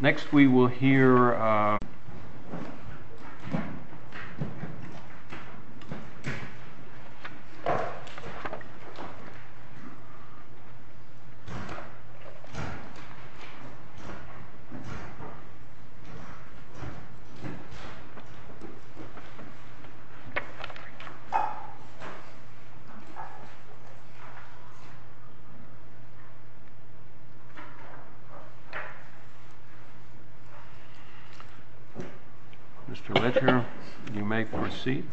Next we will hear... Mr. Ledger, you may proceed.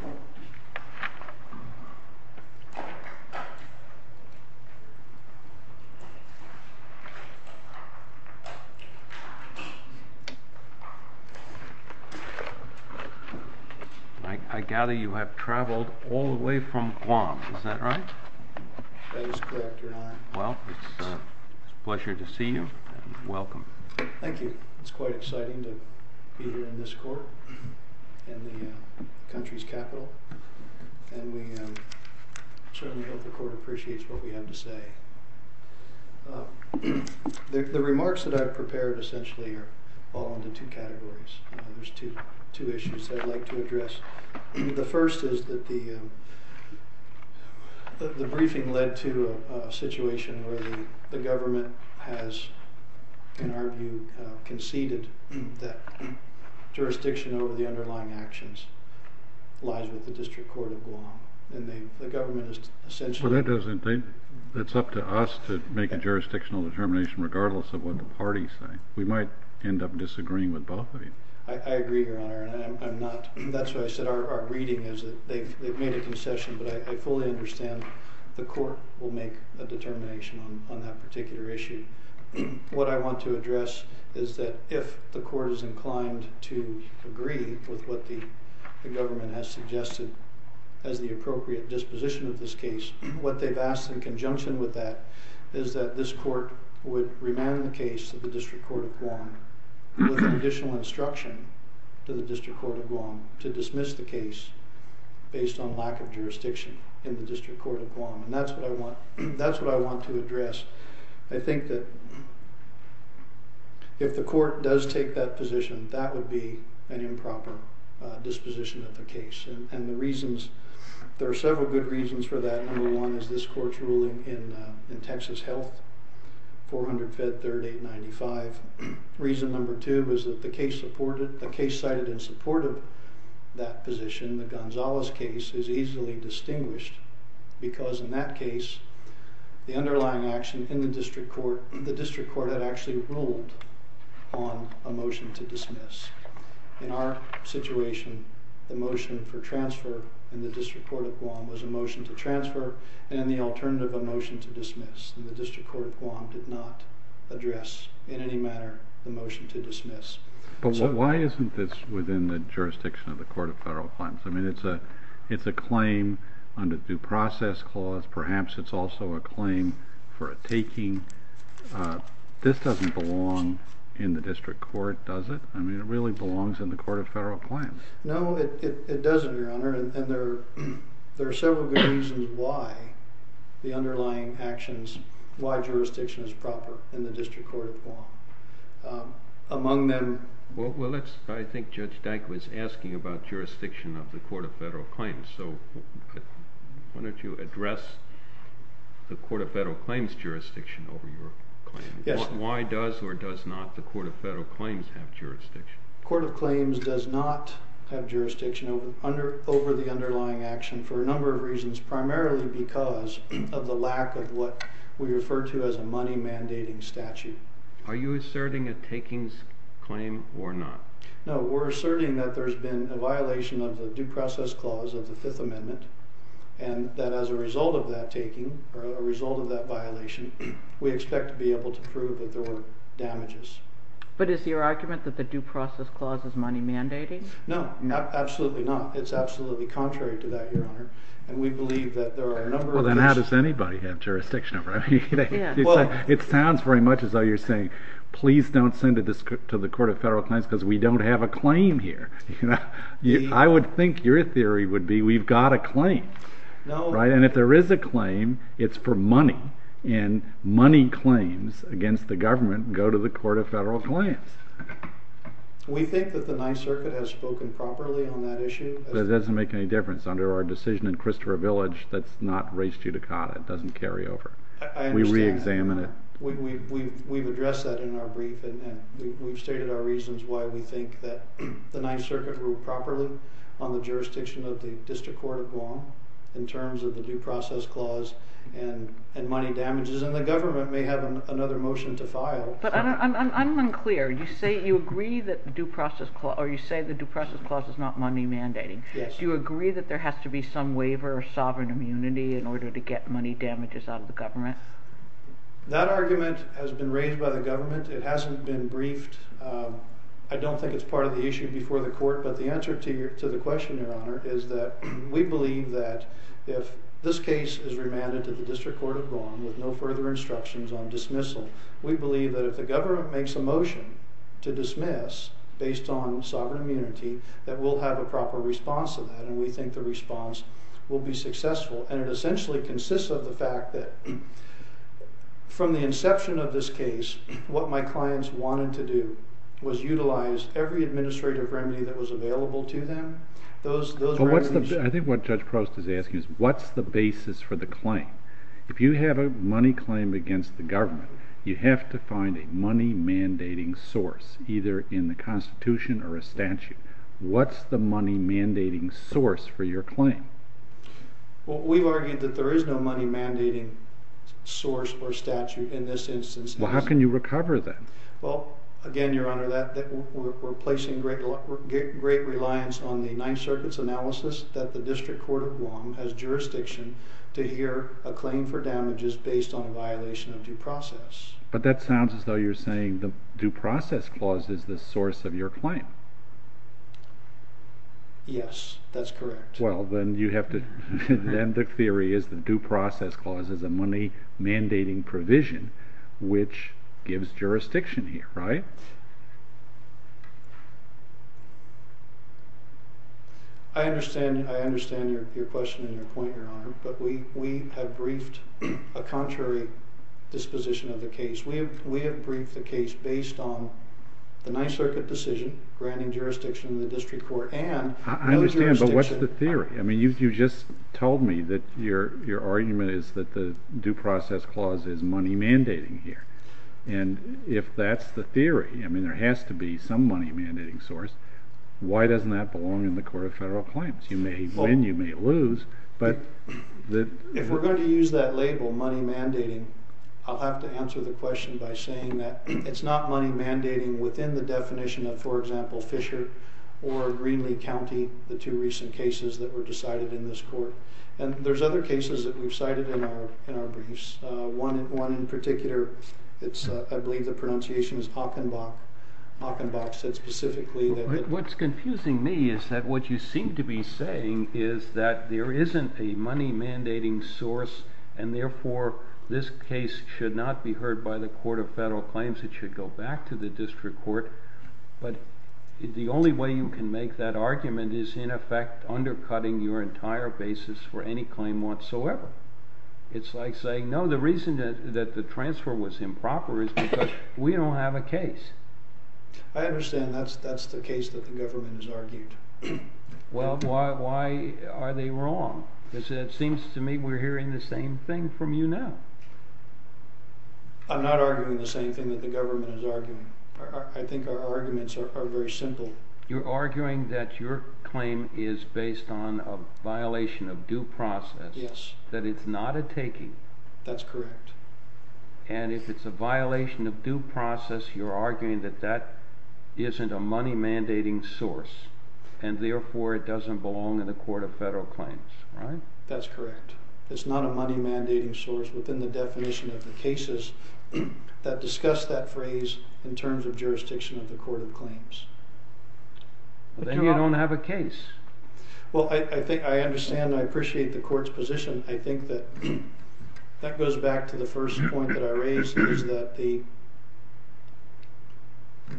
I gather you have traveled all the way from Guam, is that right? Well, it's a pleasure to see you, and welcome. Thank you. It's quite exciting to be here in this court, in the country's capital. And we certainly hope the court appreciates what we have to say. The remarks that I've prepared essentially fall into two categories. There's two issues that I'd like to address. The first is that the briefing led to a situation where the government has, in our view, conceded that jurisdiction over the underlying actions lies with the District Court of Guam. And the government has essentially... Well, that's up to us to make a jurisdictional determination, regardless of what the parties say. We might end up disagreeing with both of you. I agree, Your Honor, and I'm not... That's why I said our reading is that they've made a concession, but I fully understand the court will make a determination on that particular issue. What I want to address is that if the court is inclined to agree with what the government has suggested as the appropriate disposition of this case, what they've asked in conjunction with that is that this court would remand the case to the District Court of Guam with additional instruction to the District Court of Guam to dismiss the case based on lack of jurisdiction in the District Court of Guam. And that's what I want to address. I think that if the court does take that position, that would be an improper disposition of the case. And the reasons... There are several good reasons for that. Number one is this court's ruling in Texas Health, 400-530-895. Reason number two is that the case cited in support of that position, the Gonzalez case, is easily distinguished because in that case, the underlying action in the District Court... The District Court had actually ruled on a motion to dismiss. In our situation, the motion for transfer in the District Court of Guam was a motion to transfer and the alternative a motion to dismiss. And the District Court of Guam did not address in any manner the motion to dismiss. But why isn't this within the jurisdiction of the Court of Federal Claims? I mean, it's a claim under due process clause. Perhaps it's also a claim for a taking. This doesn't belong in the District Court, does it? I mean, it really belongs in the Court of Federal Claims. No, it doesn't, Your Honor. And there are several good reasons why the underlying actions, why jurisdiction is proper in the District Court of Guam. Among them... Well, I think Judge Dyke was asking about jurisdiction of the Court of Federal Claims. So why don't you address the Court of Federal Claims' jurisdiction over your claim? Yes. Why does or does not the Court of Federal Claims have jurisdiction? The Court of Claims does not have jurisdiction over the underlying action for a number of reasons, primarily because of the lack of what we refer to as a money-mandating statute. Are you asserting a takings claim or not? No, we're asserting that there's been a violation of the due process clause of the Fifth Amendment and that as a result of that violation, we expect to be able to prove that there were damages. But is your argument that the due process clause is money-mandating? No, absolutely not. It's absolutely contrary to that, Your Honor. And we believe that there are a number of reasons... Well, then how does anybody have jurisdiction over it? It sounds very much as though you're saying, please don't send it to the Court of Federal Claims because we don't have a claim here. I would think your theory would be we've got a claim, right? And if there is a claim, it's for money, and money claims against the government go to the Court of Federal Claims. We think that the Ninth Circuit has spoken properly on that issue. But it doesn't make any difference. Under our decision in Christopher Village, that's not res judicata. It doesn't carry over. I understand that. We re-examine it. We've addressed that in our brief, and we've stated our reasons why we think that the Ninth Circuit ruled properly on the jurisdiction of the District Court of Guam in terms of the due process clause and money damages, and the government may have another motion to file. But I'm unclear. You say you agree that the due process clause is not money-mandating. Do you agree that there has to be some waiver of sovereign immunity in order to get money damages out of the government? That argument has been raised by the government. It hasn't been briefed. I don't think it's part of the issue before the court, but the answer to the question, Your Honor, is that we believe that if this case is remanded to the District Court of Guam with no further instructions on dismissal, we believe that if the government makes a motion to dismiss based on sovereign immunity, that we'll have a proper response to that, and we think the response will be successful. And it essentially consists of the fact that from the inception of this case, what my clients wanted to do was utilize every administrative remedy that was available to them. Those remedies... I think what Judge Prost is asking is what's the basis for the claim? If you have a money claim against the government, you have to find a money-mandating source, either in the Constitution or a statute. What's the money-mandating source for your claim? Well, we've argued that there is no money-mandating source or statute in this instance. Well, how can you recover that? Well, again, Your Honor, we're placing great reliance on the Ninth Circuit's analysis that the District Court of Guam has jurisdiction to hear a claim for damages based on a violation of due process. But that sounds as though you're saying the due process clause is the source of your claim. Yes, that's correct. Well, then you have to... the due process clause is a money-mandating provision, which gives jurisdiction here, right? I understand your question and your point, Your Honor, but we have briefed a contrary disposition of the case. We have briefed the case based on the Ninth Circuit decision granting jurisdiction to the District Court and... I understand, but what's the theory? I mean, you just told me that your argument is that the due process clause is money-mandating here. And if that's the theory, I mean, there has to be some money-mandating source. Why doesn't that belong in the Court of Federal Claims? You may win, you may lose, but... If we're going to use that label, money-mandating, I'll have to answer the question by saying that it's not money-mandating within the definition of, for example, Fisher or Greenlee County, the two recent cases that were decided in this court. And there's other cases that we've cited in our briefs. One in particular, I believe the pronunciation is Hockenbach. Hockenbach said specifically that... What's confusing me is that what you seem to be saying is that there isn't a money-mandating source, and therefore this case should not be heard by the Court of Federal Claims. It should go back to the District Court. But the only way you can make that argument is in effect undercutting your entire basis for any claim whatsoever. It's like saying, no, the reason that the transfer was improper is because we don't have a case. I understand that's the case that the government has argued. Well, why are they wrong? Because it seems to me we're hearing the same thing from you now. I'm not arguing the same thing that the government is arguing. I think our arguments are very simple. You're arguing that your claim is based on a violation of due process. Yes. That it's not a taking. That's correct. And if it's a violation of due process, you're arguing that that isn't a money-mandating source, and therefore it doesn't belong in the Court of Federal Claims, right? That's correct. It's not a money-mandating source within the definition of the cases that discuss that phrase in terms of jurisdiction of the Court of Claims. Then you don't have a case. Well, I understand and I appreciate the Court's position. I think that that goes back to the first point that I raised, is that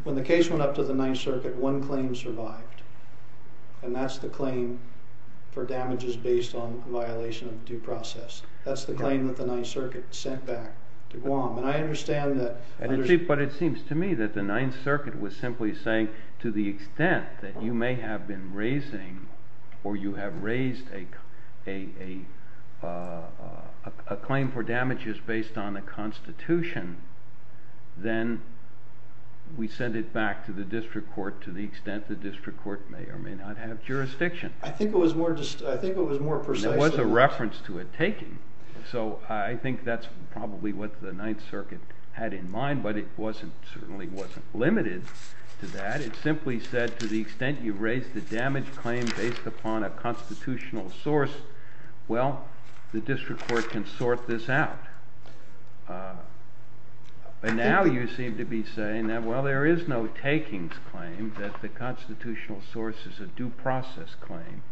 when the case went up to the Ninth Circuit, one claim survived, and that's the claim for damages based on violation of due process. That's the claim that the Ninth Circuit sent back to Guam. And I understand that. But it seems to me that the Ninth Circuit was simply saying, to the extent that you may have been raising or you have raised a claim for damages based on a constitution, then we send it back to the district court to the extent the district court may or may not have jurisdiction. I think it was more precise. There was a reference to a taking. So I think that's probably what the Ninth Circuit had in mind, but it certainly wasn't limited to that. It simply said, to the extent you've raised a damage claim based upon a constitutional source, well, the district court can sort this out. But now you seem to be saying that, well, there is no takings claim, that the constitutional source is a due process claim.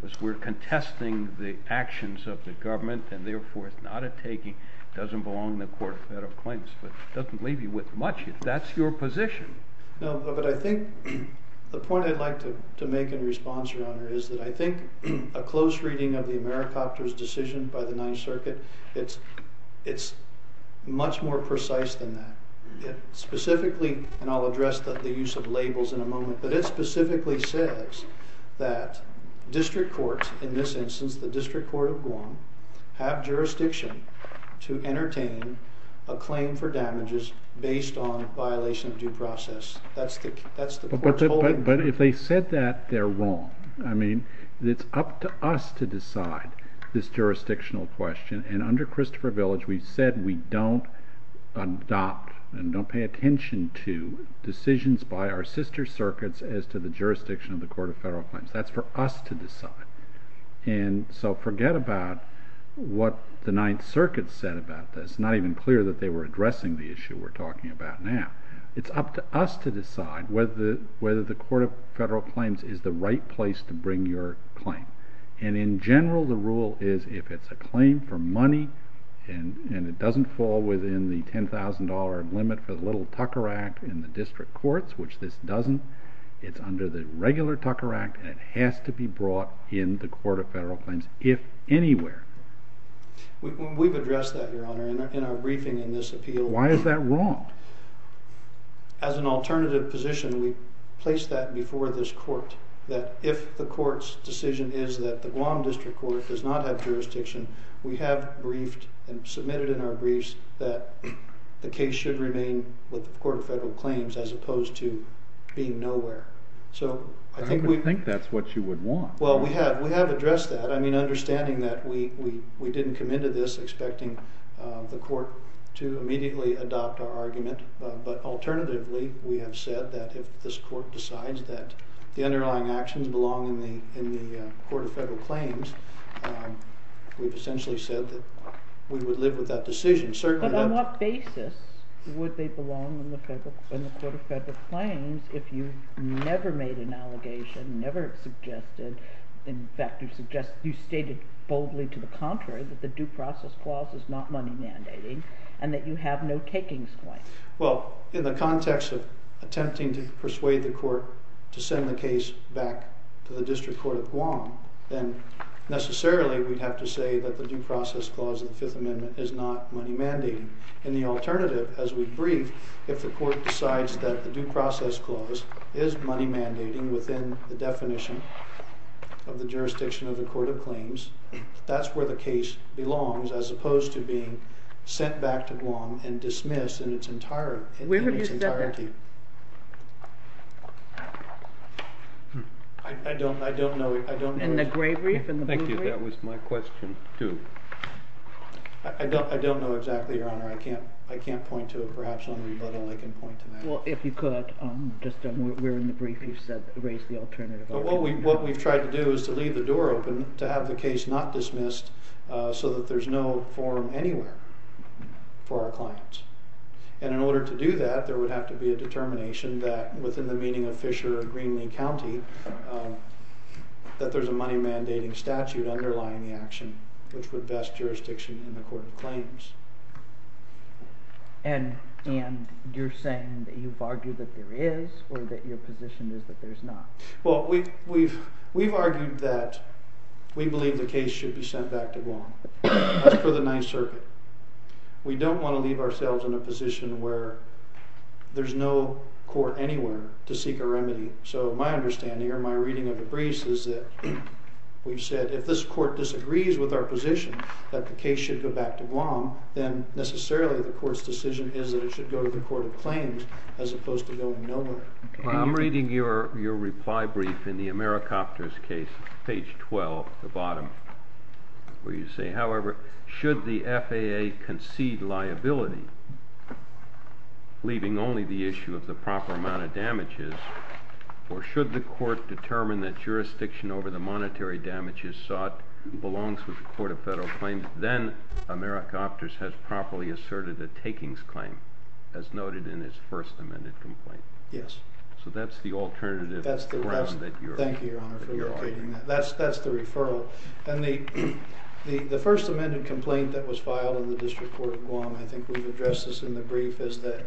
Because we're contesting the actions of the government and therefore it's not a taking. It doesn't belong in the Court of Federal Claims, but it doesn't leave you with much if that's your position. No, but I think the point I'd like to make in response, Your Honor, is that I think a close reading of the Americopter's decision by the Ninth Circuit, it's much more precise than that. Specifically, and I'll address the use of labels in a moment, but it specifically says that district courts, in this instance the District Court of Guam, have jurisdiction to entertain a claim for damages based on violation of due process. That's the Court's holding. But if they said that, they're wrong. I mean, it's up to us to decide this jurisdictional question, and under Christopher Village we've said we don't adopt and don't pay attention to decisions by our sister circuits as to the jurisdiction of the Court of Federal Claims. That's for us to decide. And so forget about what the Ninth Circuit said about this. It's not even clear that they were addressing the issue we're talking about now. It's up to us to decide whether the Court of Federal Claims is the right place to bring your claim. And in general the rule is if it's a claim for money and it doesn't fall within the $10,000 limit for the Little Tucker Act in the district courts, which this doesn't, it's under the regular Tucker Act and it has to be brought in the Court of Federal Claims, if anywhere. We've addressed that, Your Honor, in our briefing in this appeal. Why is that wrong? As an alternative position, we've placed that before this Court, that if the Court's decision is that the Guam District Court does not have jurisdiction, we have briefed and submitted in our briefs that the case should remain with the Court of Federal Claims as opposed to being nowhere. I would think that's what you would want. Well, we have addressed that. Understanding that we didn't come into this expecting the Court to immediately adopt our argument, but alternatively we have said that if this Court decides that the underlying actions belong in the Court of Federal Claims, we've essentially said that we would live with that decision. But on what basis would they belong in the Court of Federal Claims if you never made an allegation, never suggested, in fact you stated boldly to the contrary that the due process clause is not money mandating and that you have no takings claim. Well, in the context of attempting to persuade the Court to send the case back to the District Court of Guam, then necessarily we'd have to say that the due process clause of the Fifth Amendment is not money mandating. In the alternative, as we brief, if the Court decides that the due process clause is money mandating within the definition of the jurisdiction of the Court of Claims, that's where the case belongs, as opposed to being sent back to Guam and dismissed in its entirety. Where have you said that? I don't know. In the gray brief, in the blue brief? Thank you, that was my question, too. I don't know exactly, Your Honor. I can't point to it. Perhaps only Bud and I can point to that. Well, if you could, just we're in the brief, you've raised the alternative already. But what we've tried to do is to leave the door open to have the case not dismissed so that there's no forum anywhere for our clients. And in order to do that, there would have to be a determination that within the meaning of Fisher or Greenlee County that there's a money mandating statute underlying the action which would vest jurisdiction in the Court of Claims. And you're saying that you've argued that there is or that your position is that there's not? Well, we've argued that we believe the case should be sent back to Guam. That's for the Ninth Circuit. We don't want to leave ourselves in a position where there's no court anywhere to seek a remedy. So my understanding or my reading of the briefs is that we've said if this court disagrees with our position that the case should go back to Guam, then necessarily the court's decision is that it should go to the Court of Claims as opposed to going nowhere. Well, I'm reading your reply brief in the Americopters case, page 12, the bottom, where you say, however, should the FAA concede liability, leaving only the issue of the proper amount of damages, or should the court determine that jurisdiction over the monetary damage is sought and belongs to the Court of Federal Claims, then Americopters has properly asserted a takings claim as noted in its first amended complaint. Yes. So that's the alternative. Thank you, Your Honor, for indicating that. That's the referral. And the first amended complaint that was filed in the District Court of Guam, I think we've addressed this in the brief, is that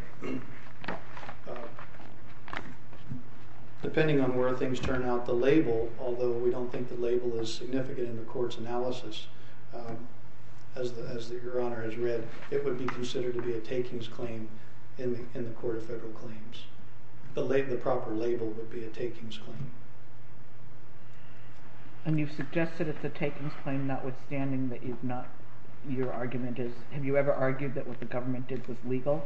depending on where things turn out, the label, although we don't think the label is significant in the court's analysis, as Your Honor has read, it would be considered to be a takings claim in the Court of Federal Claims. The proper label would be a takings claim. And you've suggested it's a takings claim, notwithstanding that your argument is, have you ever argued that what the government did was legal?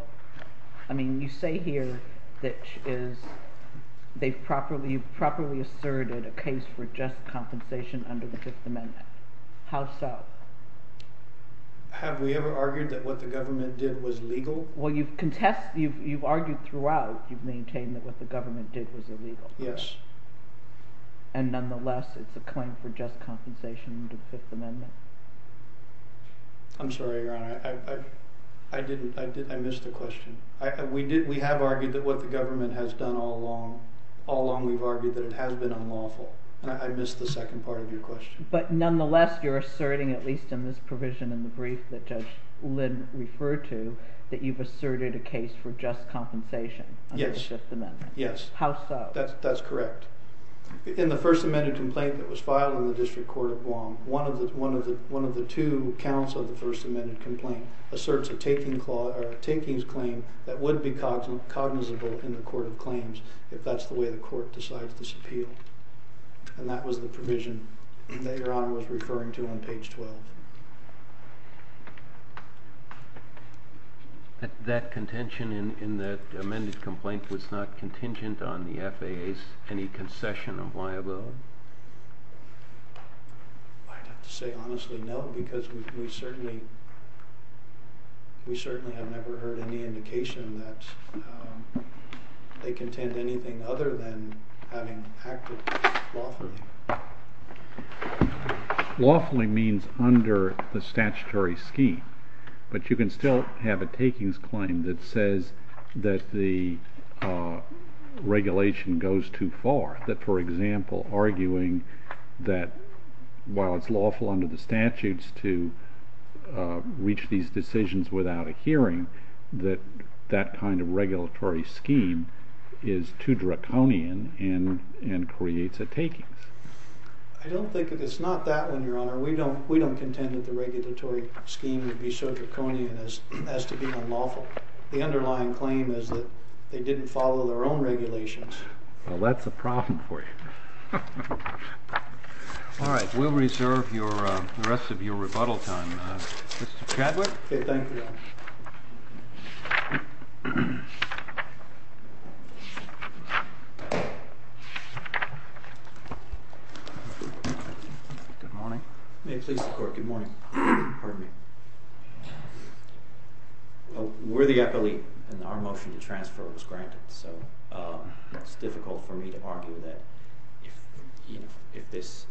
I mean, you say here that they've properly asserted a case for just compensation under the Fifth Amendment. How so? Have we ever argued that what the government did was legal? Well, you've argued throughout, you've maintained that what the government did was illegal. Yes. And nonetheless, it's a claim for just compensation under the Fifth Amendment. I'm sorry, Your Honor. I missed the question. We have argued that what the government has done all along, all along we've argued that it has been unlawful. I missed the second part of your question. But nonetheless, you're asserting, at least in this provision in the brief that Judge Lynn referred to, that you've asserted a case for just compensation under the Fifth Amendment. Yes. Yes. How so? That's correct. In the First Amendment complaint that was filed in the District Court of Guam, one of the two counts of the First Amendment complaint asserts a takings claim that would be cognizable if that's the way the Court decides this appeal. And that was the provision that Your Honor was referring to on page 12. That contention in that amended complaint was not contingent on the FAA's any concession of liability? I'd have to say honestly no, because we certainly have never heard any indication that they contend anything other than having acted lawfully. Lawfully means under the statutory scheme. But you can still have a takings claim that says that the regulation goes too far. That, for example, arguing that while it's lawful under the statutes to reach these decisions without a hearing, that that kind of regulatory scheme is too draconian and creates a takings. I don't think it's not that one, Your Honor. We don't contend that the regulatory scheme would be so draconian as to be unlawful. The underlying claim is that they didn't follow their own regulations. Well, that's a problem for you. All right, we'll reserve the rest of your rebuttal time. Mr. Chadwick? Okay, thank you, Your Honor. Good morning. May it please the Court, good morning. Pardon me. Well, we're the appellee, and our motion to transfer was granted, so it's difficult for me to argue that if this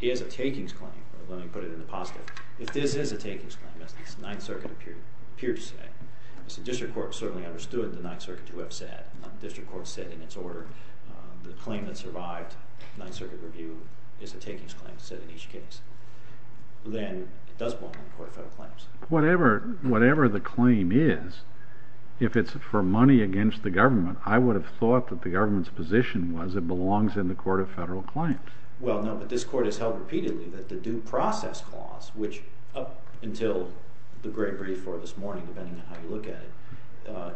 is a takings claim, let me put it in the positive, if this is a takings claim, as the Ninth Circuit appeared to say, the District Court certainly understood what the Ninth Circuit would have said. The District Court said in its order the claim that survived Ninth Circuit review is a takings claim set in each case. Then it does belong in the Court of Federal Claims. Whatever the claim is, if it's for money against the government, I would have thought that the government's position was it belongs in the Court of Federal Claims. Well, no, but this Court has held repeatedly that the due process clause, which up until the great brief for this morning, depending on how you look at it,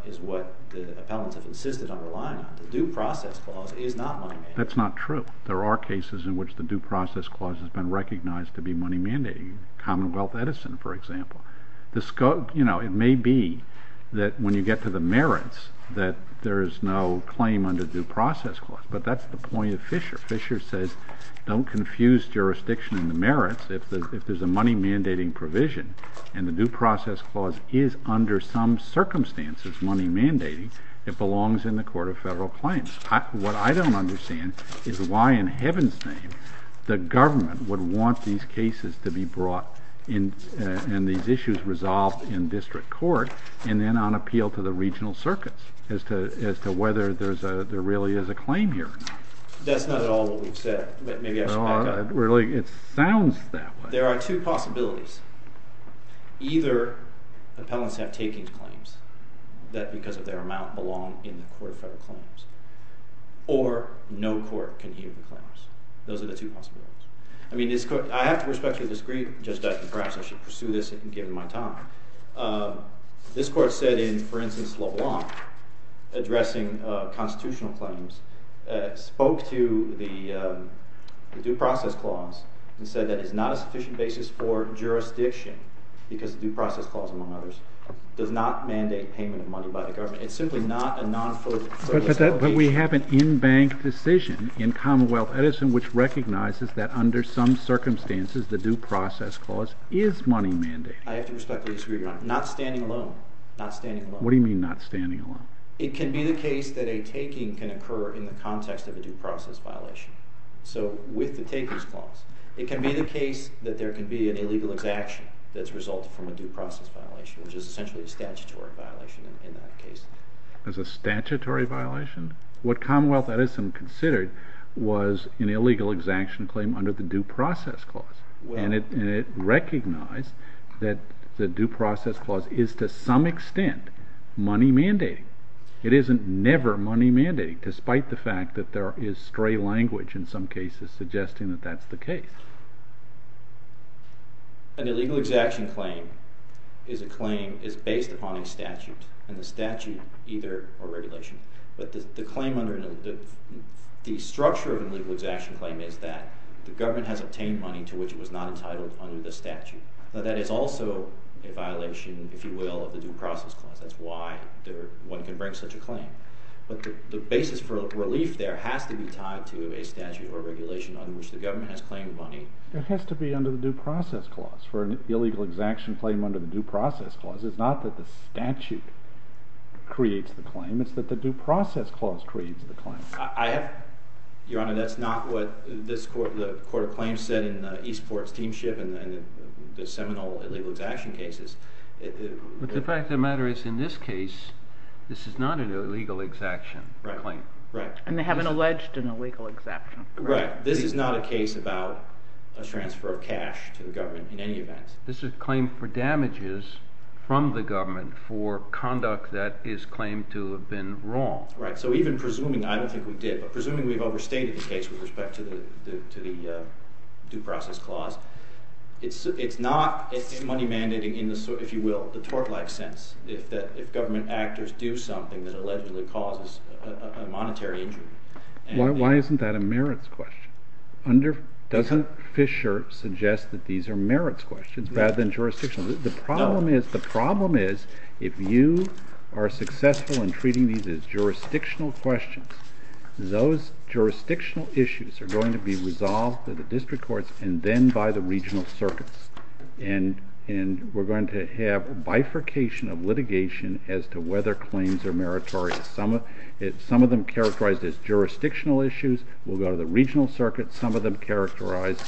is what the appellants have insisted on relying on. The due process clause is not money-mandating. That's not true. There are cases in which the due process clause has been recognized to be money-mandating. Commonwealth Edison, for example. It may be that when you get to the merits that there is no claim under the due process clause, but that's the point of Fisher. Fisher says don't confuse jurisdiction and the merits. If there's a money-mandating provision and the due process clause is under some circumstances money-mandating, it belongs in the Court of Federal Claims. What I don't understand is why in heaven's name the government would want these cases to be brought and these issues resolved in district court and then on appeal to the regional circuits as to whether there really is a claim here or not. That's not at all what we've said. Maybe I should back up. Really, it sounds that way. There are two possibilities. Either appellants have taking claims that because of their amount belong in the Court of Federal Claims, or no court can hear the claims. Those are the two possibilities. I have to respectfully disagree. Perhaps I should pursue this and give them my time. This court said in, for instance, LeBlanc, addressing constitutional claims, spoke to the due process clause and said that it's not a sufficient basis for jurisdiction because the due process clause, among others, does not mandate payment of money by the government. It's simply not a non-fulfilling obligation. But we have an in-bank decision in Commonwealth Edison which recognizes that under some circumstances the due process clause is money mandating. I have to respectfully disagree, Your Honor. Not standing alone. What do you mean, not standing alone? It can be the case that a taking can occur in the context of a due process violation. So, with the takers clause. It can be the case that there can be an illegal exaction that's resulted from a due process violation, which is essentially a statutory violation in that case. It's a statutory violation? What Commonwealth Edison considered was an illegal exaction claim under the due process clause. And it recognized that the due process clause is to some extent money mandating. It isn't never money mandating, despite the fact that there is stray language in some cases suggesting that that's the case. An illegal exaction claim is a claim based upon a statute, and the statute either a regulation. But the claim under... The structure of an illegal exaction claim is that the government has obtained money to which it was not entitled under the statute. Now, that is also a violation, if you will, of the due process clause. That's why one can bring such a claim. But the basis for relief there has to be tied to a statute or regulation on which the government has claimed money. It has to be under the due process clause. For an illegal exaction claim under the due process clause, it's not that the statute creates the claim, it's that the due process clause creates the claim. Your Honor, that's not what the Court of Claims said in Eastport Steamship and the seminal illegal exaction cases. But the fact of the matter is, in this case, this is not an illegal exaction claim. Right. And they haven't alleged an illegal exaction claim. Right. This is not a case about a transfer of cash to the government in any event. This is a claim for damages from the government for conduct that is claimed to have been wrong. Right. So even presuming, I don't think we did, but presuming we've overstated the case with respect to the due process clause, it's not money mandating in the, if you will, the tort life sense, if government actors do something that allegedly causes a monetary injury. Why isn't that a merits question? Doesn't Fisher suggest that these are merits questions rather than jurisdictional? No. The problem is, if you are successful in treating these as jurisdictional questions, those jurisdictional issues are going to be resolved by the district courts and then by the regional circuits. And we're going to have a bifurcation of litigation as to whether claims are meritorious. Some of them characterized as jurisdictional issues will go to the regional circuits. Some of them characterized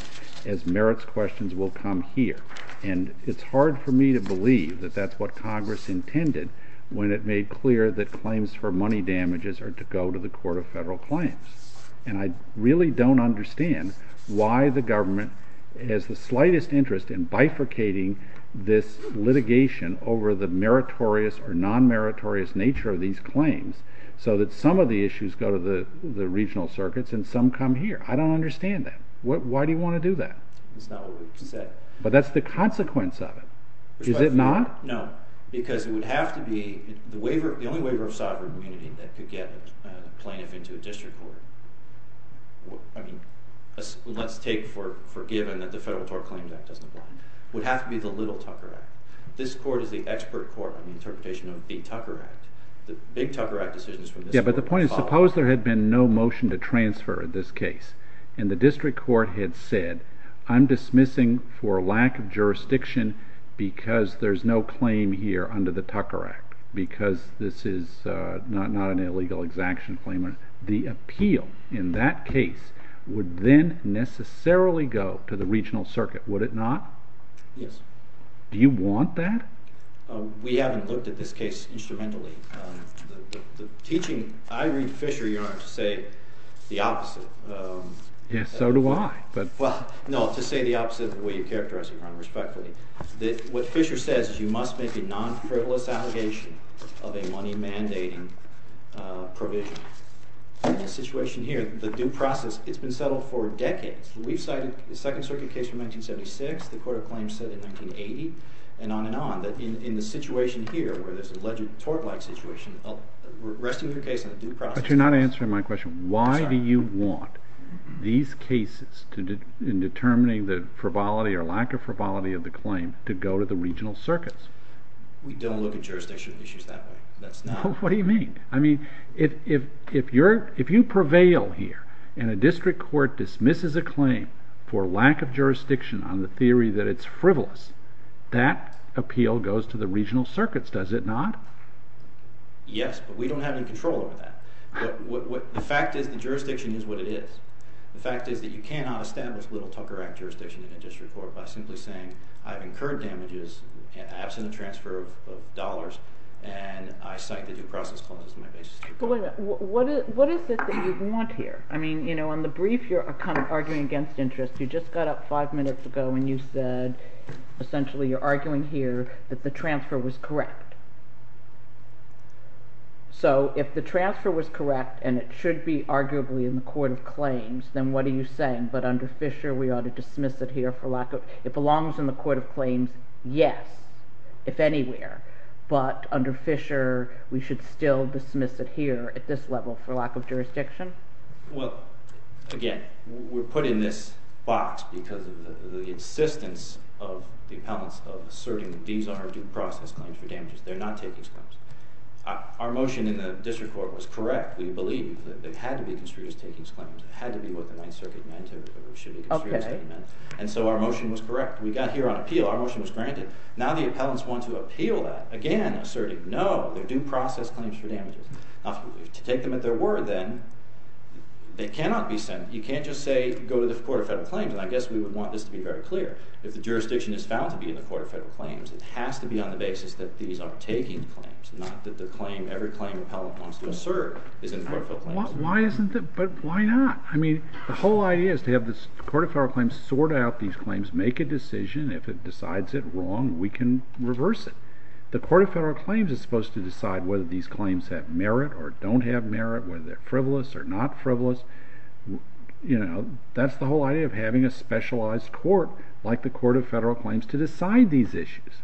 as merits questions will come here. And it's hard for me to believe that that's what Congress intended when it made clear that claims for money damages are to go to the Court of Federal Claims. And I really don't understand why the government has the slightest interest in bifurcating this litigation over the meritorious or non-meritorious nature of these claims so that some of the issues go to the regional circuits and some come here. I don't understand that. Why do you want to do that? That's not what we've said. But that's the consequence of it. Is it not? No, because it would have to be... The only waiver of sovereign immunity that could get a plaintiff into a district court, I mean, let's take for given that the Federal Tort Claims Act doesn't apply, would have to be the Little Tucker Act. This court is the expert court in the interpretation of the Tucker Act. The Big Tucker Act decisions... Yeah, but the point is, suppose there had been no motion to transfer this case and the district court had said, I'm dismissing for lack of jurisdiction because there's no claim here under the Tucker Act, because this is not an illegal exaction claim. The appeal in that case would then necessarily go to the regional circuit, would it not? Yes. Do you want that? We haven't looked at this case instrumentally. The teaching... I read Fisher, Your Honor, to say the opposite. Yes, so do I, but... Well, no, to say the opposite of the way you characterize it, Your Honor, respectfully. What Fisher says is you must make a non-frivolous allegation of a money-mandating provision. The situation here, the due process, it's been settled for decades. We've cited the Second Circuit case from 1976, the Court of Claims said in 1980, and on and on, that in the situation here, where there's an alleged tort-like situation, we're arresting your case in a due process. But you're not answering my question. Why do you want these cases in determining the frivolity or lack of frivolity of the claim to go to the regional circuits? We don't look at jurisdiction issues that way. That's not... What do you mean? I mean, if you prevail here and a district court dismisses a claim for lack of jurisdiction on the theory that it's frivolous, that appeal goes to the regional circuits, does it not? Yes, but we don't have any control over that. The fact is the jurisdiction is what it is. The fact is that you cannot establish Little Tucker Act jurisdiction in a district court by simply saying I've incurred damages absent a transfer of dollars and I cite the due process claim as my basis. But wait a minute. What is it that you want here? I mean, you know, on the brief, you're kind of arguing against interest. You just got up five minutes ago when you said essentially you're arguing here that the transfer was correct. So if the transfer was correct and it should be arguably in the court of claims, then what are you saying? But under Fisher, we ought to dismiss it here for lack of... It belongs in the court of claims, yes, if anywhere. But under Fisher, we should still dismiss it here at this level for lack of jurisdiction? Well, again, we're put in this box because of the insistence of the appellants of asserting these are due process claims for damages. They're not takings claims. Our motion in the district court was correct. We believe that they had to be construed as takings claims. It had to be what the Ninth Circuit meant or should be construed as takings claims. And so our motion was correct. We got here on appeal. Our motion was granted. Now the appellants want to appeal that, again, asserting no, they're due process claims for damages. Now, if you take them at their word, then they cannot be sent. You can't just say go to the court of federal claims and I guess we would want this to be very clear. If the jurisdiction is found to be in the court of federal claims, it has to be on the basis that these are taking claims, not that every claim appellant wants to assert is in the court of federal claims. Why isn't it? But why not? I mean, the whole idea is to have the court of federal claims sort out these claims, make a decision. If it decides it wrong, we can reverse it. The court of federal claims is supposed to decide whether these claims have merit or don't have merit, whether they're frivolous or not frivolous. That's the whole idea of having a specialized court like the court of federal claims to decide these issues.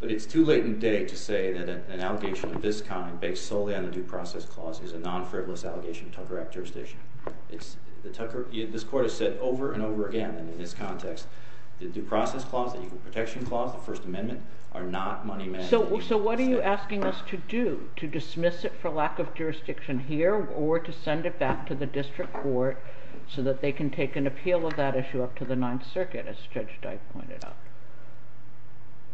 But it's too late in the day to say that an allegation of this kind, based solely on the due process clause, is a non-frivolous allegation of Tucker Act jurisdiction. This court has said over and over again, and in this context, the due process clause, the equal protection clause, the First Amendment, are not money matters. So what are you asking us to do? To dismiss it for lack of jurisdiction here or to send it back to the district court so that they can take an appeal of that issue up to the Ninth Circuit, as Judge Dyke pointed out?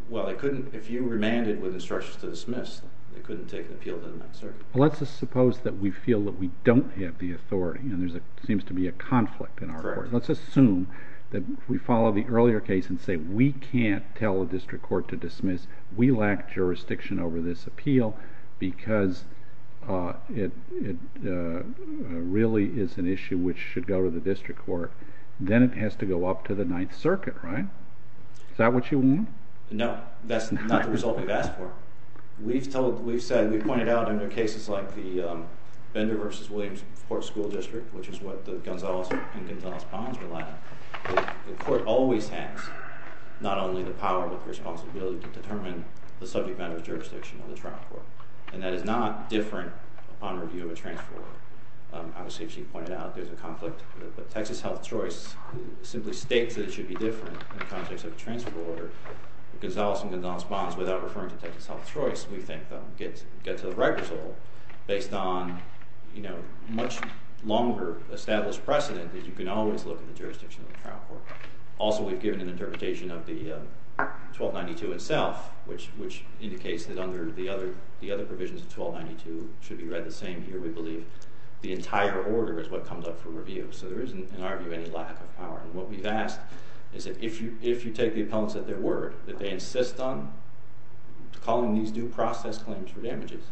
Well, if you remanded with instructions to dismiss, they couldn't take an appeal to the Ninth Circuit. Well, let's just suppose that we feel that we don't have the authority, and there seems to be a conflict in our court. Correct. Let's assume that if we follow the earlier case and say we can't tell a district court to dismiss, we lack jurisdiction over this appeal because it really is an issue which should go to the district court. Then it has to go up to the Ninth Circuit, right? Is that what you want? No. That's not the result we've asked for. We've said, we've pointed out, under cases like the Bender v. Williams Court School District, which is what the Gonzales and Gonzales-Bonds relied on, the court always has not only the power but the responsibility to determine the subject matter of jurisdiction of the trial court. And that is not different upon review of a transfer order. Obviously, as she pointed out, there's a conflict. But Texas Health Choice simply states that it should be different in the context of a transfer order. The Gonzales and Gonzales-Bonds, without referring to Texas Health Choice, we think that would get to the right result based on a much longer established precedent that you can always look at the jurisdiction of the trial court. Also, we've given an interpretation of the 1292 itself, which indicates that under the other provisions of 1292, it should be read the same here. We believe the entire order is what comes up for review. So there isn't, in our view, any lack of power. And what we've asked is that if you take the appellants at their word, that they insist on calling these due process claims for damages,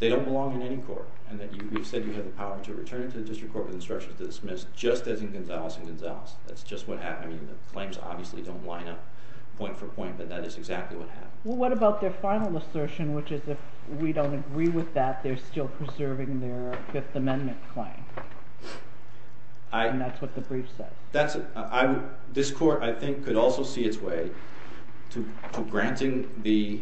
they don't belong in any court, and that you've said you have the power to return it to the District Court with instructions to dismiss just as in Gonzales and Gonzales. That's just what happened. I mean, the claims obviously don't line up point for point, but that is exactly what happened. Well, what about their final assertion, which is if we don't agree with that, they're still preserving their Fifth Amendment claim? And that's what the brief said. That's it. This court, I think, could also see its way to granting the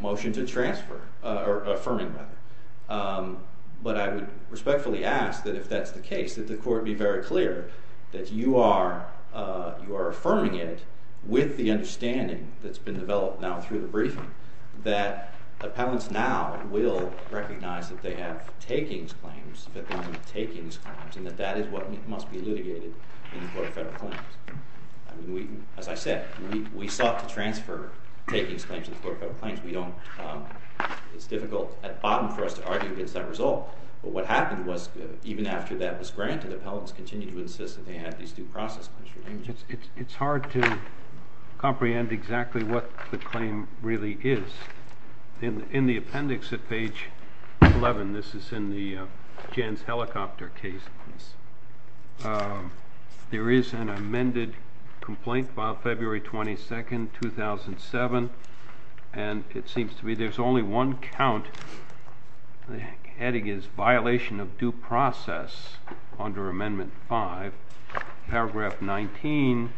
motion to transfer, or affirming, rather. But I would respectfully ask that if that's the case, that the court be very clear that you are affirming it with the understanding that's been developed now through the briefing that appellants now will recognize that they have takings claims, Fifth Amendment takings claims, and that that is what must be litigated in the Court of Federal Claims. As I said, we sought to transfer takings claims to the Court of Federal Claims. It's difficult at the bottom for us to argue against that result. But what happened was, even after that was granted, appellants continued to insist that they had these due process claims for damages. It's hard to comprehend exactly what the claim really is. In the appendix at page 11, this is in Jan's helicopter case, there is an amended complaint filed February 22, 2007, and it seems to me there's only one count. The heading is, Violation of due process under Amendment 5. Paragraph 19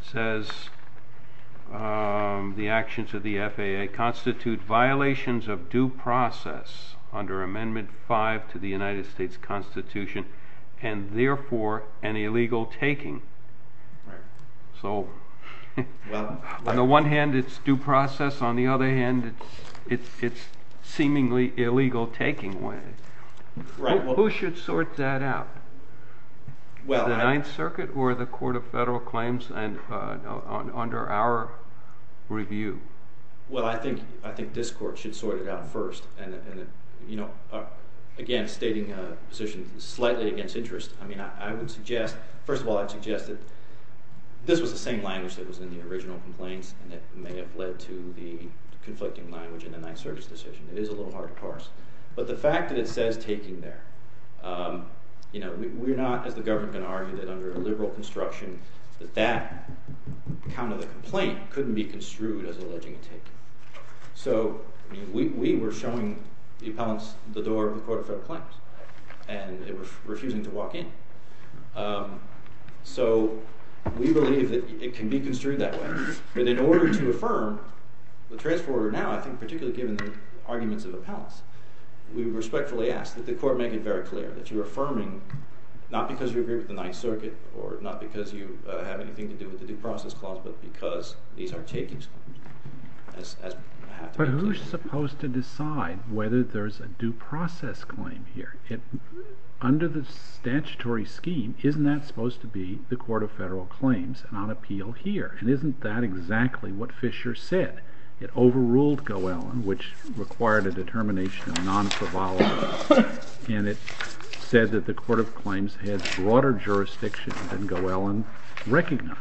says, The actions of the FAA constitute violations of due process under Amendment 5 to the United States Constitution and therefore an illegal taking. So on the one hand it's due process, on the other hand it's seemingly illegal taking. Who should sort that out? The Ninth Circuit or the Court of Federal Claims under our review? Well, I think this Court should sort it out first. Again, stating a position slightly against interest, I would suggest, first of all, I'd suggest that this was the same language that was in the original complaints and it may have led to the conflicting language in the Ninth Circuit's decision. It is a little hard to parse. But the fact that it says taking there, you know, we're not, as the government, going to argue that under a liberal construction that that count of the complaint couldn't be construed as alleging a taking. So we were showing the appellants the door of the Court of Federal Claims and they were refusing to walk in. So we believe that it can be construed that way. But in order to affirm, the transformer now, I think particularly given the arguments of appellants, we respectfully ask that the Court make it very clear that you're affirming not because you agree with the Ninth Circuit or not because you have anything to do with the Due Process Clause but because these are takings. But who's supposed to decide whether there's a due process claim here? Under the statutory scheme, isn't that supposed to be the Court of Federal Claims and on appeal here? And isn't that exactly what Fisher said? It overruled Goellan, which required a determination of non-favala and it said that the Court of Claims had broader jurisdiction than Goellan recognized.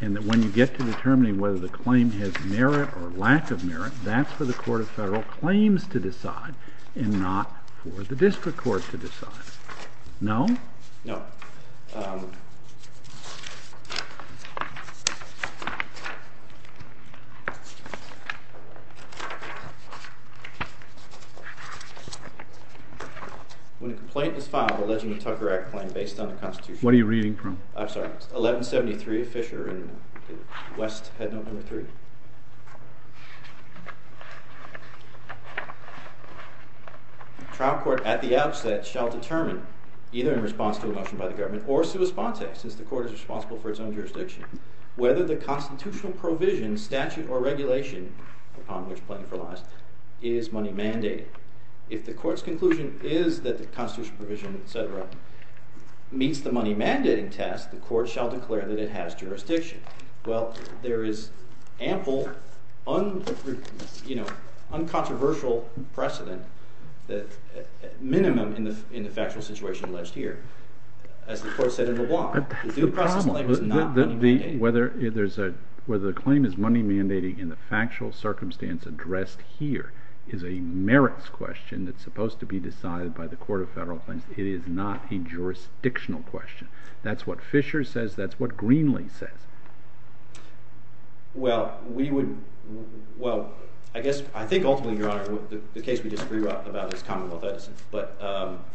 And that when you get to determining whether the claim has merit or lack of merit, that's for the Court of Federal Claims to decide and not for the District Court to decide. No? No. When a complaint is filed alleging a Tucker Act claim based on the Constitution... What are you reading from? I'm sorry. It's 1173, Fisher, in West Headnote Number 3. Trial court at the outset shall determine, either in response to a motion by the government or sui sponte, since the court is responsible for its own jurisdiction, whether the constitutional provision, statute, or regulation upon which plaintiff relies is money-mandated. If the court's conclusion is that the constitutional provision, etc., meets the money-mandating test, the court shall declare that it has jurisdiction. Well, there is ample, uncontroversial precedent, at minimum, in the factual situation alleged here. As the court said in LeBlanc, the due process claim is not money-mandating. Whether the claim is money-mandating in the factual circumstance addressed here is a merits question that's supposed to be decided by the Court of Federal Claims. It is not a jurisdictional question. That's what Fisher says. That's what Greenlee says. Well, we would... Well, I guess, I think ultimately, Your Honor, the case we disagree about is Commonwealth Edison,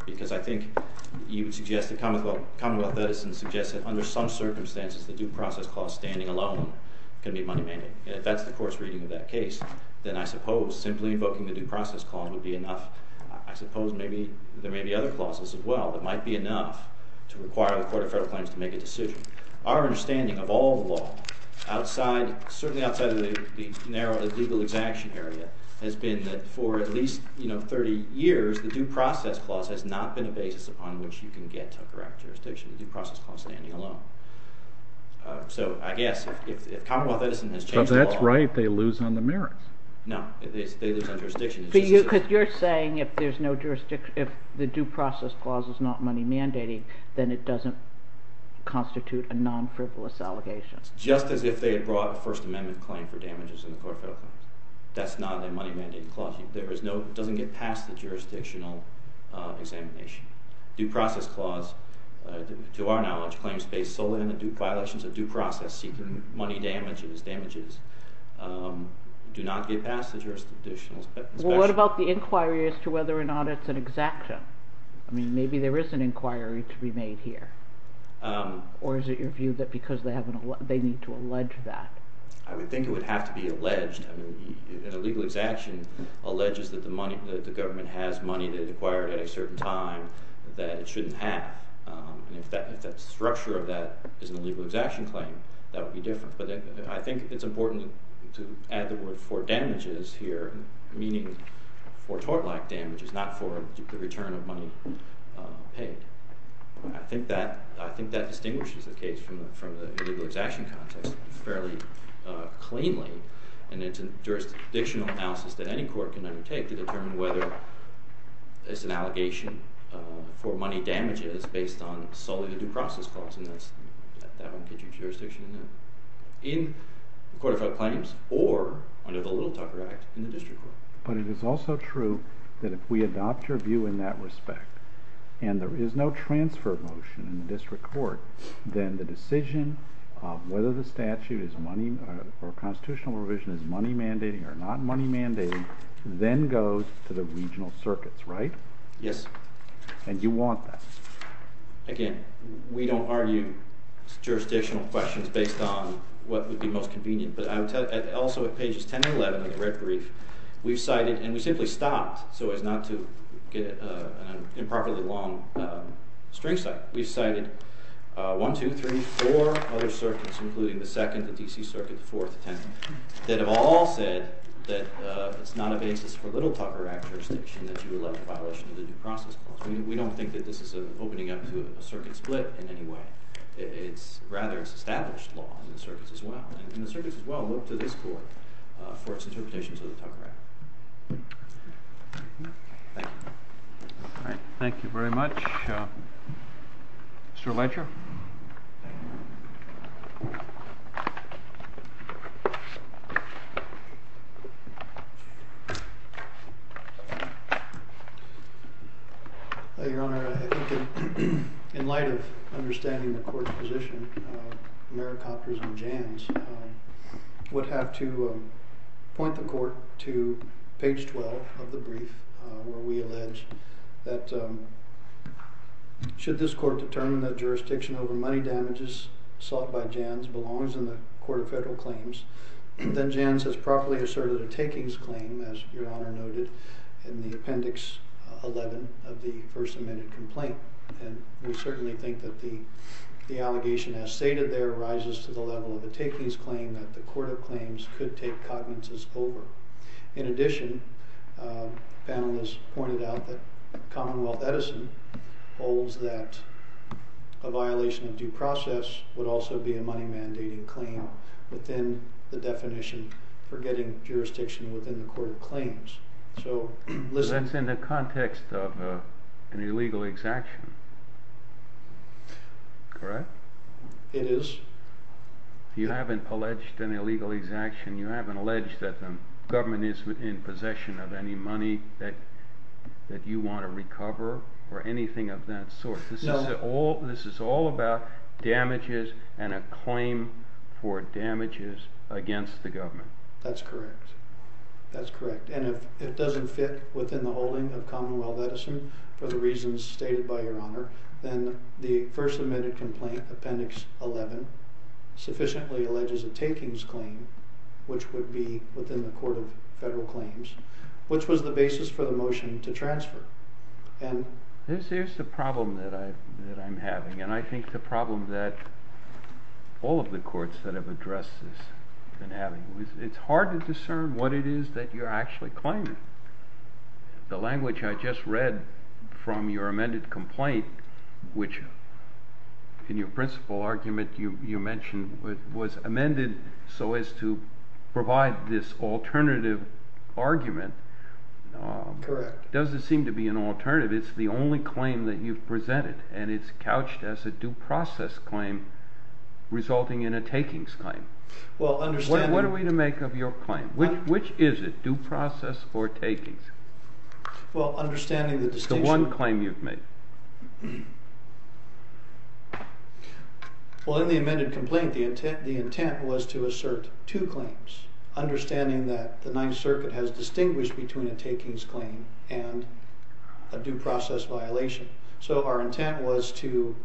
because I think you would suggest that Commonwealth Edison suggests that under some circumstances the due process clause standing alone can be money-mandating. If that's the court's reading of that case, then I suppose simply invoking the due process clause would be enough. I suppose there may be other clauses as well that might be enough to require the Court of Federal Claims to make a decision. Our understanding of all the law, certainly outside of the narrow legal exaction area, has been that for at least 30 years, the due process clause has not been a basis upon which you can get to a correct jurisdiction, the due process clause standing alone. So, I guess, if Commonwealth Edison has changed the law... But that's right, they lose on the merits. No, they lose on jurisdiction. Because you're saying if there's no jurisdiction, if the due process clause is not money-mandating, then it doesn't constitute a non-frivolous allegation. Just as if they had brought a First Amendment claim for damages in the Court of Federal Claims. That's not a money-mandating clause. It doesn't get past the jurisdictional examination. Due process clause, to our knowledge, claims based solely on the violations of due process, seeking money damages, do not get past the jurisdictional... What about the inquiry as to whether or not it's an exaction? I mean, maybe there is an inquiry to be made here. Or is it your view that because they need to allege that? I would think it would have to be alleged. An illegal exaction alleges that the government has money that it acquired at a certain time that it shouldn't have. If the structure of that is an illegal exaction claim, that would be different. But I think it's important to add the word for damages here, meaning for tort-like damages, not for the return of money paid. I think that distinguishes the case from the illegal exaction context fairly cleanly. And it's a jurisdictional analysis that any court can undertake to determine whether it's an allegation for money damages based on solely the due process clause. And that one gives you jurisdiction in that. In the Court of Federal Claims or under the Little Tucker Act in the district court. But it is also true that if we adopt your view in that respect and there is no transfer motion in the district court, then the decision of whether the statute or constitutional revision is money mandating or not money mandating then goes to the regional circuits, right? Yes. And you want that. Again, we don't argue jurisdictional questions based on what would be most convenient. But also at pages 10 and 11 of the red brief, we've cited, and we simply stopped so as not to get an improperly long string cite. We've cited 1, 2, 3, 4 other circuits, including the 2nd, the D.C. Circuit, the 4th, the 10th, that have all said that it's not a basis for Little Tucker Act jurisdiction that you elect a violation of the due process clause. We don't think that this is an opening up to a circuit split in any way. Rather, it's established law in the circuits as well. And the circuits as well look to this court for its interpretations of the Tucker Act. Thank you. All right. Thank you very much. Mr. Ledger? Your Honor, I think in light of understanding the court's position, and that of Mary Copters and Jans, would have to point the court to page 12 of the brief where we allege that should this court determine that jurisdiction over money damages sought by Jans belongs in the Court of Federal Claims, then Jans has properly asserted a takings claim, as Your Honor noted in the appendix 11 of the first amended complaint. And we certainly think that the allegation as stated there rises to the level of a takings claim that the Court of Claims could take cognizance over. In addition, panelists pointed out that Commonwealth Edison holds that a violation of due process would also be a money-mandating claim within the definition for getting jurisdiction within the Court of Claims. That's in the context of an illegal exaction, correct? It is. You haven't alleged an illegal exaction. You haven't alleged that the government is in possession of any money that you want to recover or anything of that sort. This is all about damages and a claim for damages against the government. That's correct. That's correct. And if it doesn't fit within the holding of Commonwealth Edison for the reasons stated by Your Honor, then the first amended complaint, appendix 11, sufficiently alleges a takings claim, which would be within the Court of Federal Claims, which was the basis for the motion to transfer. There's a problem that I'm having, and I think the problem that all of the courts that have addressed this have been having, is it's hard to discern what it is that you're actually claiming. The language I just read from your amended complaint, which in your principal argument you mentioned was amended so as to provide this alternative argument, doesn't seem to be an alternative. It's the only claim that you've presented, and it's couched as a due process claim resulting in a takings claim. What are we to make of your claim? Which is it, due process or takings? Well, understanding the distinction... It's the one claim you've made. Well, in the amended complaint, the intent was to assert two claims, understanding that the Ninth Circuit has distinguished between a takings claim and a due process violation. So our intent was to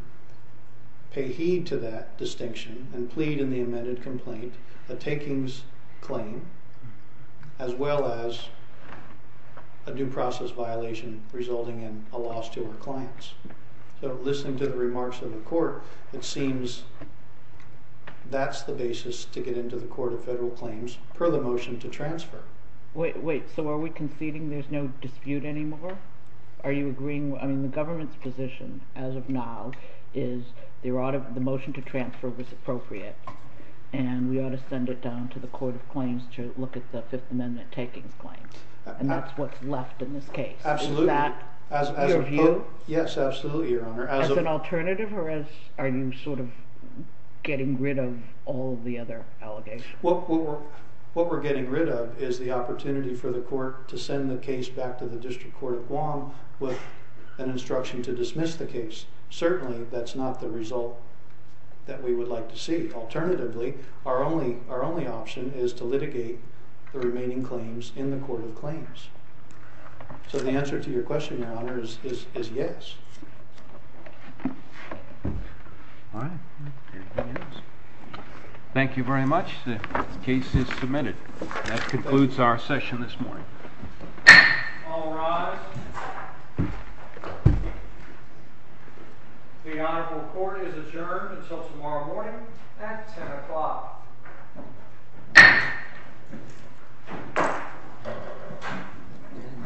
pay heed to that distinction and plead in the amended complaint a takings claim as well as a due process violation resulting in a loss to our clients. So listening to the remarks of the court, it seems that's the basis to get into the Court of Federal Claims per the motion to transfer. Wait, so are we conceding there's no dispute anymore? Are you agreeing... I mean, the government's position as of now is the motion to transfer was appropriate, and we ought to send it down to the Court of Claims to look at the Fifth Amendment takings claim, and that's what's left in this case. Absolutely. Is that your view? Yes, absolutely, Your Honor. As an alternative, or are you sort of getting rid of all the other allegations? What we're getting rid of is the opportunity for the court with an instruction to dismiss the case. Certainly that's not the result that we would like to see. Alternatively, our only option is to litigate the remaining claims in the Court of Claims. So the answer to your question, Your Honor, is yes. All right. Anything else? Thank you very much. The case is submitted. That concludes our session this morning. All rise. The Honorable Court is adjourned until tomorrow morning at 10 o'clock.